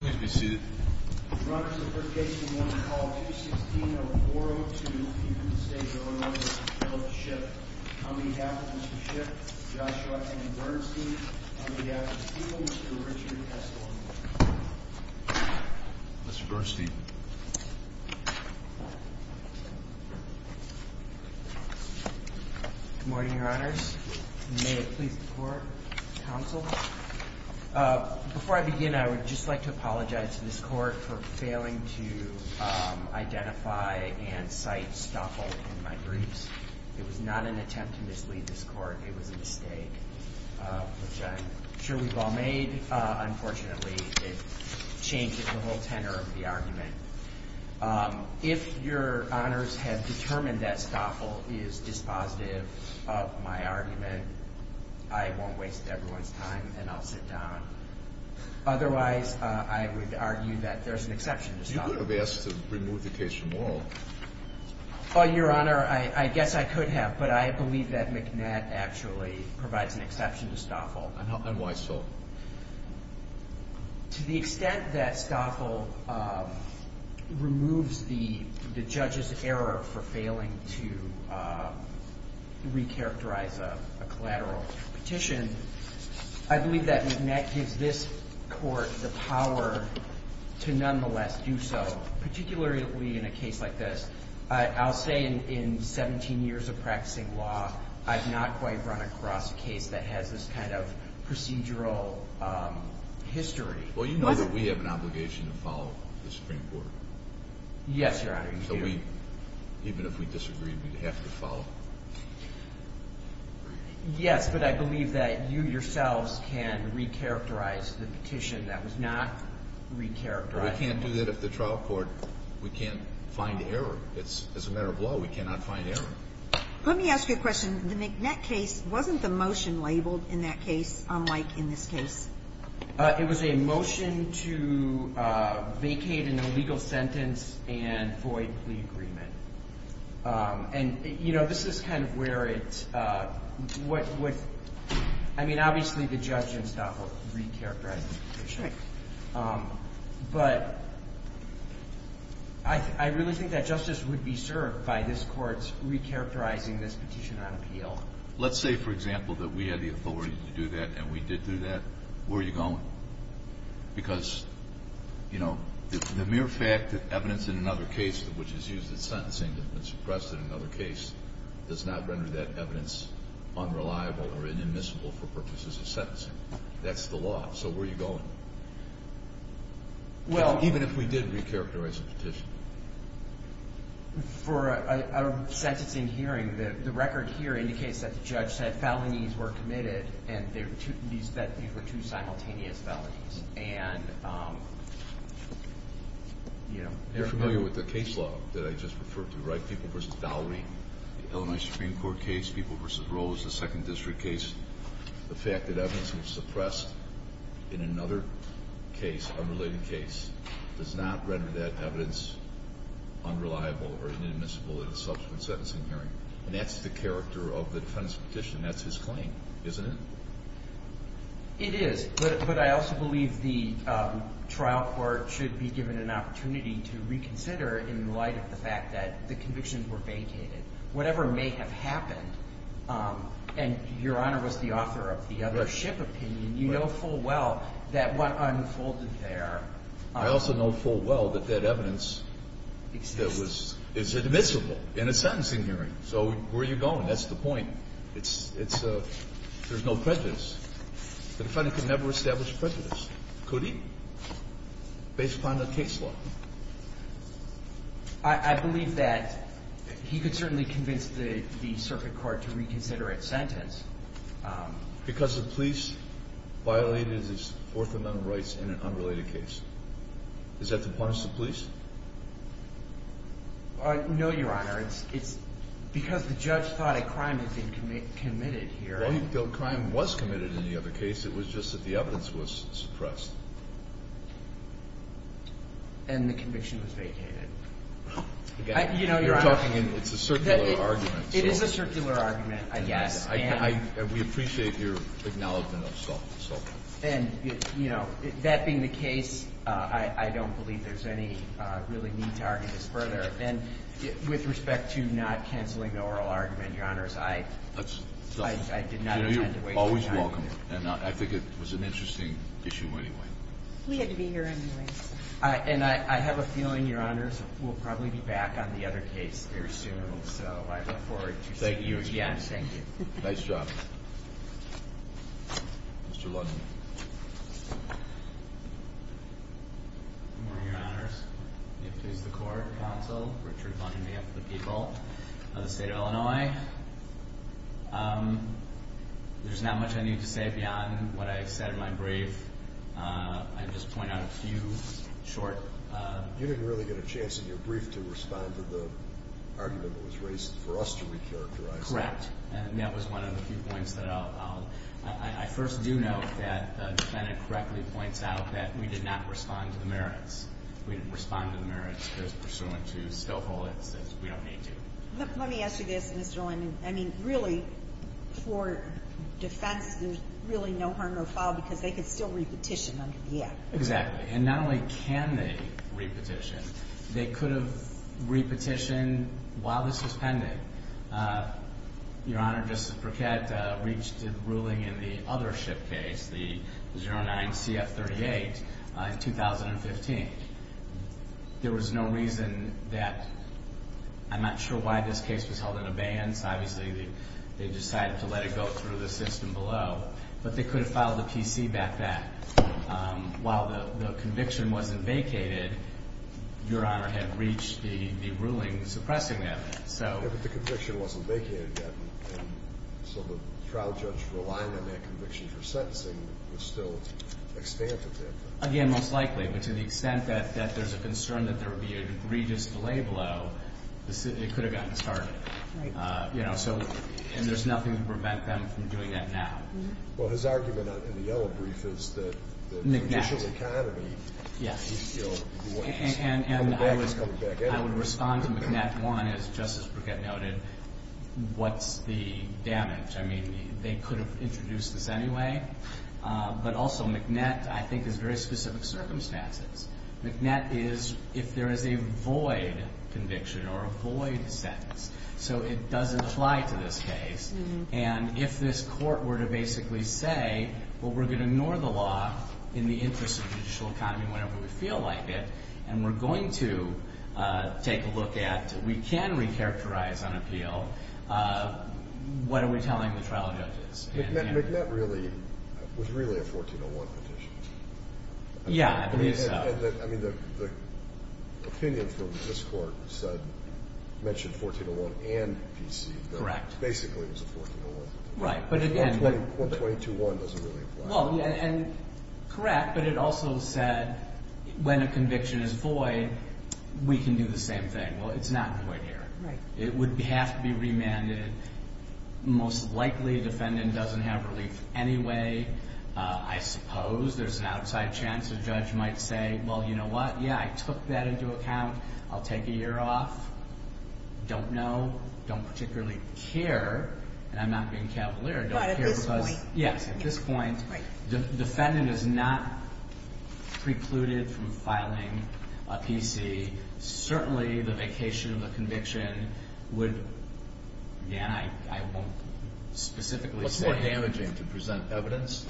Good morning, Your Honors. May it please the Court, Counsel. Before I begin, I would just like to apologize to this Court for failing to identify and cite Stoffel in my briefs. It was not an attempt to mislead this Court. It was a mistake, which I'm sure we've all made. Unfortunately, it changed the whole tenor of the argument. If Your Honors have determined that Stoffel is dispositive of my argument, I won't waste everyone's time and I'll sit down. Otherwise, I would argue that there's an exception to Stoffel. You could have asked to remove the case from oral. Well, Your Honor, I guess I could have, but I believe that McNatt actually provides an exception to Stoffel. And why so? To the extent that Stoffel removes the judge's error for failing to recharacterize a collateral petition, I believe that McNatt gives this Court the power to nonetheless do so, particularly in a case like this. I'll say in 17 years of practicing law, I've not quite run across a case that has this kind of procedural history. Well, you know that we have an obligation to follow the Supreme Court. Yes, Your Honor, you do. So even if we disagreed, we'd have to follow. Yes, but I believe that you yourselves can recharacterize the petition that was not recharacterized. We can't do that at the trial court. We can't find error. As a matter of law, we cannot find error. Let me ask you a question. The McNatt case, wasn't the motion labeled in that case unlike in this case? It was a motion to vacate an illegal sentence and void plea agreement. And, you know, this is kind of where it's – I mean, obviously the judge in Stoffel recharacterized the petition. Right. But I really think that justice would be served by this Court's recharacterizing this petition on appeal. Let's say, for example, that we had the authority to do that and we did do that. Where are you going? Because, you know, the mere fact that evidence in another case, which is used in sentencing and suppressed in another case, does not render that evidence unreliable or inadmissible for purposes of sentencing. That's the law. So where are you going? Well – Even if we did recharacterize the petition. For a sentencing hearing, the record here indicates that the judge said felonies were committed and that these were two simultaneous felonies. And, you know – You're familiar with the case law that I just referred to, right? People v. Valerie, the Illinois Supreme Court case, People v. Rose, the Second District case, the fact that evidence was suppressed in another case, unrelated case, does not render that evidence unreliable or inadmissible in a subsequent sentencing hearing. And that's the character of the defendant's petition. That's his claim, isn't it? It is. But I also believe the trial court should be given an opportunity to reconsider in light of the fact that the convictions were vacated. Whatever may have happened, and Your Honor was the author of the other ship opinion, you know full well that what unfolded there – I also know full well that that evidence – Exists. Is admissible in a sentencing hearing. So where are you going? That's the point. It's a – there's no prejudice. The defendant could never establish prejudice, could he, based upon the case law? I believe that he could certainly convince the circuit court to reconsider its sentence. Because the police violated his Fourth Amendment rights in an unrelated case. Is that to punish the police? No, Your Honor. It's because the judge thought a crime had been committed here. Well, he felt crime was committed in the other case. It was just that the evidence was suppressed. And the conviction was vacated. You know, Your Honor – You're talking in – it's a circular argument. It is a circular argument, I guess. And we appreciate your acknowledgment of soft assault. And, you know, that being the case, I don't believe there's any really need to argue this further. And with respect to not cancelling the oral argument, Your Honors, I did not intend to – You're always welcome. And I think it was an interesting issue anyway. We had to be here anyway. And I have a feeling, Your Honors, we'll probably be back on the other case very soon. So I look forward to seeing you again. Thank you. Nice job. Mr. Lundin. Good morning, Your Honors. May it please the Court, Counsel, Richard Lundin, behalf of the people of the State of Illinois. There's not much I need to say beyond what I said in my brief. I'd just point out a few short – You didn't really get a chance in your brief to respond to the argument that was raised for us to recharacterize that. Correct. And that was one of the few points that I'll – I first do note that the defendant correctly points out that we did not respond to the merits. We didn't respond to the merits as pursuant to Stoffel. It says we don't need to. Let me ask you this, Mr. Lundin. I mean, really, for defense, there's really no harm no foul because they could still repetition under the Act. Exactly. And not only can they repetition, they could have repetitioned while this was pending. Your Honor, Justice Briquette reached a ruling in the other SHIP case, the 09-CF38, in 2015. There was no reason that – I'm not sure why this case was held in abeyance. Obviously, they decided to let it go through the system below, but they could have filed a PC back then. While the conviction wasn't vacated, Your Honor had reached the ruling suppressing that. Yeah, but the conviction wasn't vacated yet, and so the trial judge relying on that conviction for sentencing was still extant at that time. Again, most likely, but to the extent that there's a concern that there would be an egregious delay below, it could have gotten started. Right. You know, so – and there's nothing to prevent them from doing that now. Well, his argument in the yellow brief is that – McNett. – the initial economy – Yes. – you know, was coming back in. I would respond to McNett, one, as Justice Briquette noted, what's the damage? I mean, they could have introduced this anyway. But also, McNett, I think, is very specific circumstances. McNett is if there is a void conviction or a void sentence. So it does apply to this case. And if this court were to basically say, well, we're going to ignore the law in the interest of judicial economy whenever we feel like it, and we're going to take a look at – we can recharacterize on appeal. What are we telling the trial judges? McNett really – was really a 1401 petition. Yeah, I believe so. I mean, the opinion from this court said – mentioned 1401 and PC. Correct. Basically, it was a 1401 petition. Right, but again – 122.1 doesn't really apply. Well, and correct, but it also said when a conviction is void, we can do the same thing. Well, it's not void here. Right. It would have to be remanded. Most likely, defendant doesn't have relief anyway. I suppose there's an outside chance a judge might say, well, you know what? Yeah, I took that into account. I'll take a year off. Don't know. Don't particularly care. And I'm not being cavalier. But at this point. Yes, at this point, defendant is not precluded from filing a PC. Certainly, the vacation of the conviction would – again, I won't specifically say. What's more damaging, to present evidence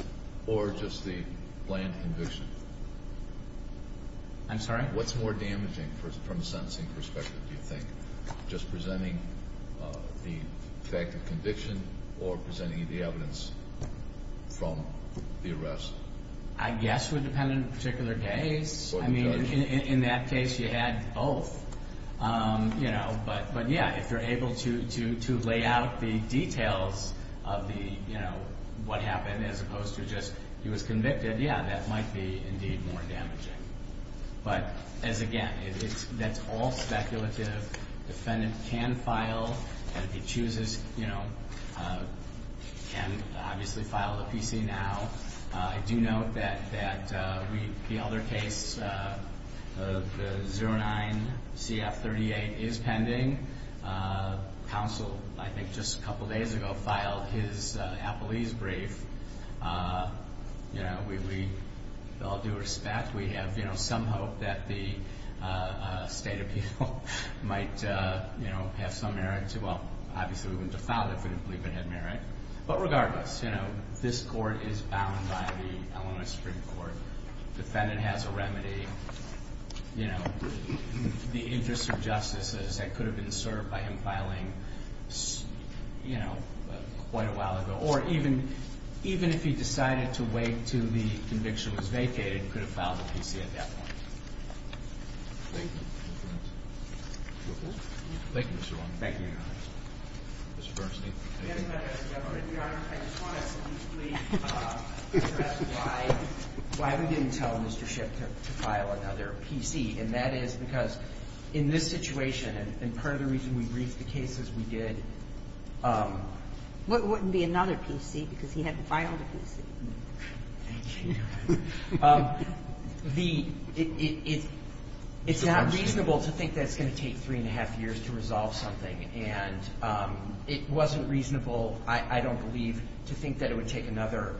or just the planned conviction? I'm sorry? What's more damaging from a sentencing perspective, do you think? Just presenting the fact of conviction or presenting the evidence from the arrest? I guess would depend on the particular case. In that case, you had both. But, yeah, if you're able to lay out the details of what happened as opposed to just he was convicted, yeah, that might be indeed more damaging. But, as again, that's all speculative. Defendant can file. If he chooses, you know, can obviously file a PC now. I do note that the other case, the 09-CF38, is pending. Counsel, I think just a couple days ago, filed his appellee's brief. We all do respect. We have some hope that the state appeal might have some merit to – well, obviously, we wouldn't have filed it if we didn't believe it had merit. But regardless, this court is bound by the Illinois Supreme Court. Defendant has a remedy. The interest of justice is that it could have been served by him filing quite a while ago. Or even if he decided to wait until the conviction was vacated, he could have filed a PC at that point. Thank you. Thank you, Mr. Long. Thank you, Your Honor. Mr. Bernstein. I just want to briefly address why we didn't tell Mr. Schiff to file another PC. And that is because in this situation, and part of the reason we briefed the cases we did – It wouldn't be another PC because he hadn't filed a PC. Thank you, Your Honor. The – it's not reasonable to think that it's going to take three and a half years to resolve something. And it wasn't reasonable, I don't believe, to think that it would take another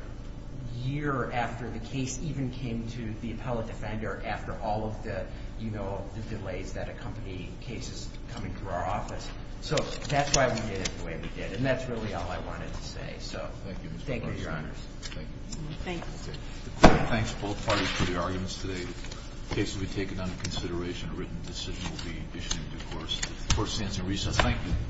year after the case even came to the appellate defender after all of the, you know, the delays that accompany cases coming through our office. So that's why we did it the way we did. And that's really all I wanted to say. So thank you, Your Honor. Thank you, Mr. Bernstein. Thank you. Thanks. Thanks, both parties, for your arguments today. The cases we've taken under consideration in a written decision will be issued in due course. The Court stands in recess. Thank you.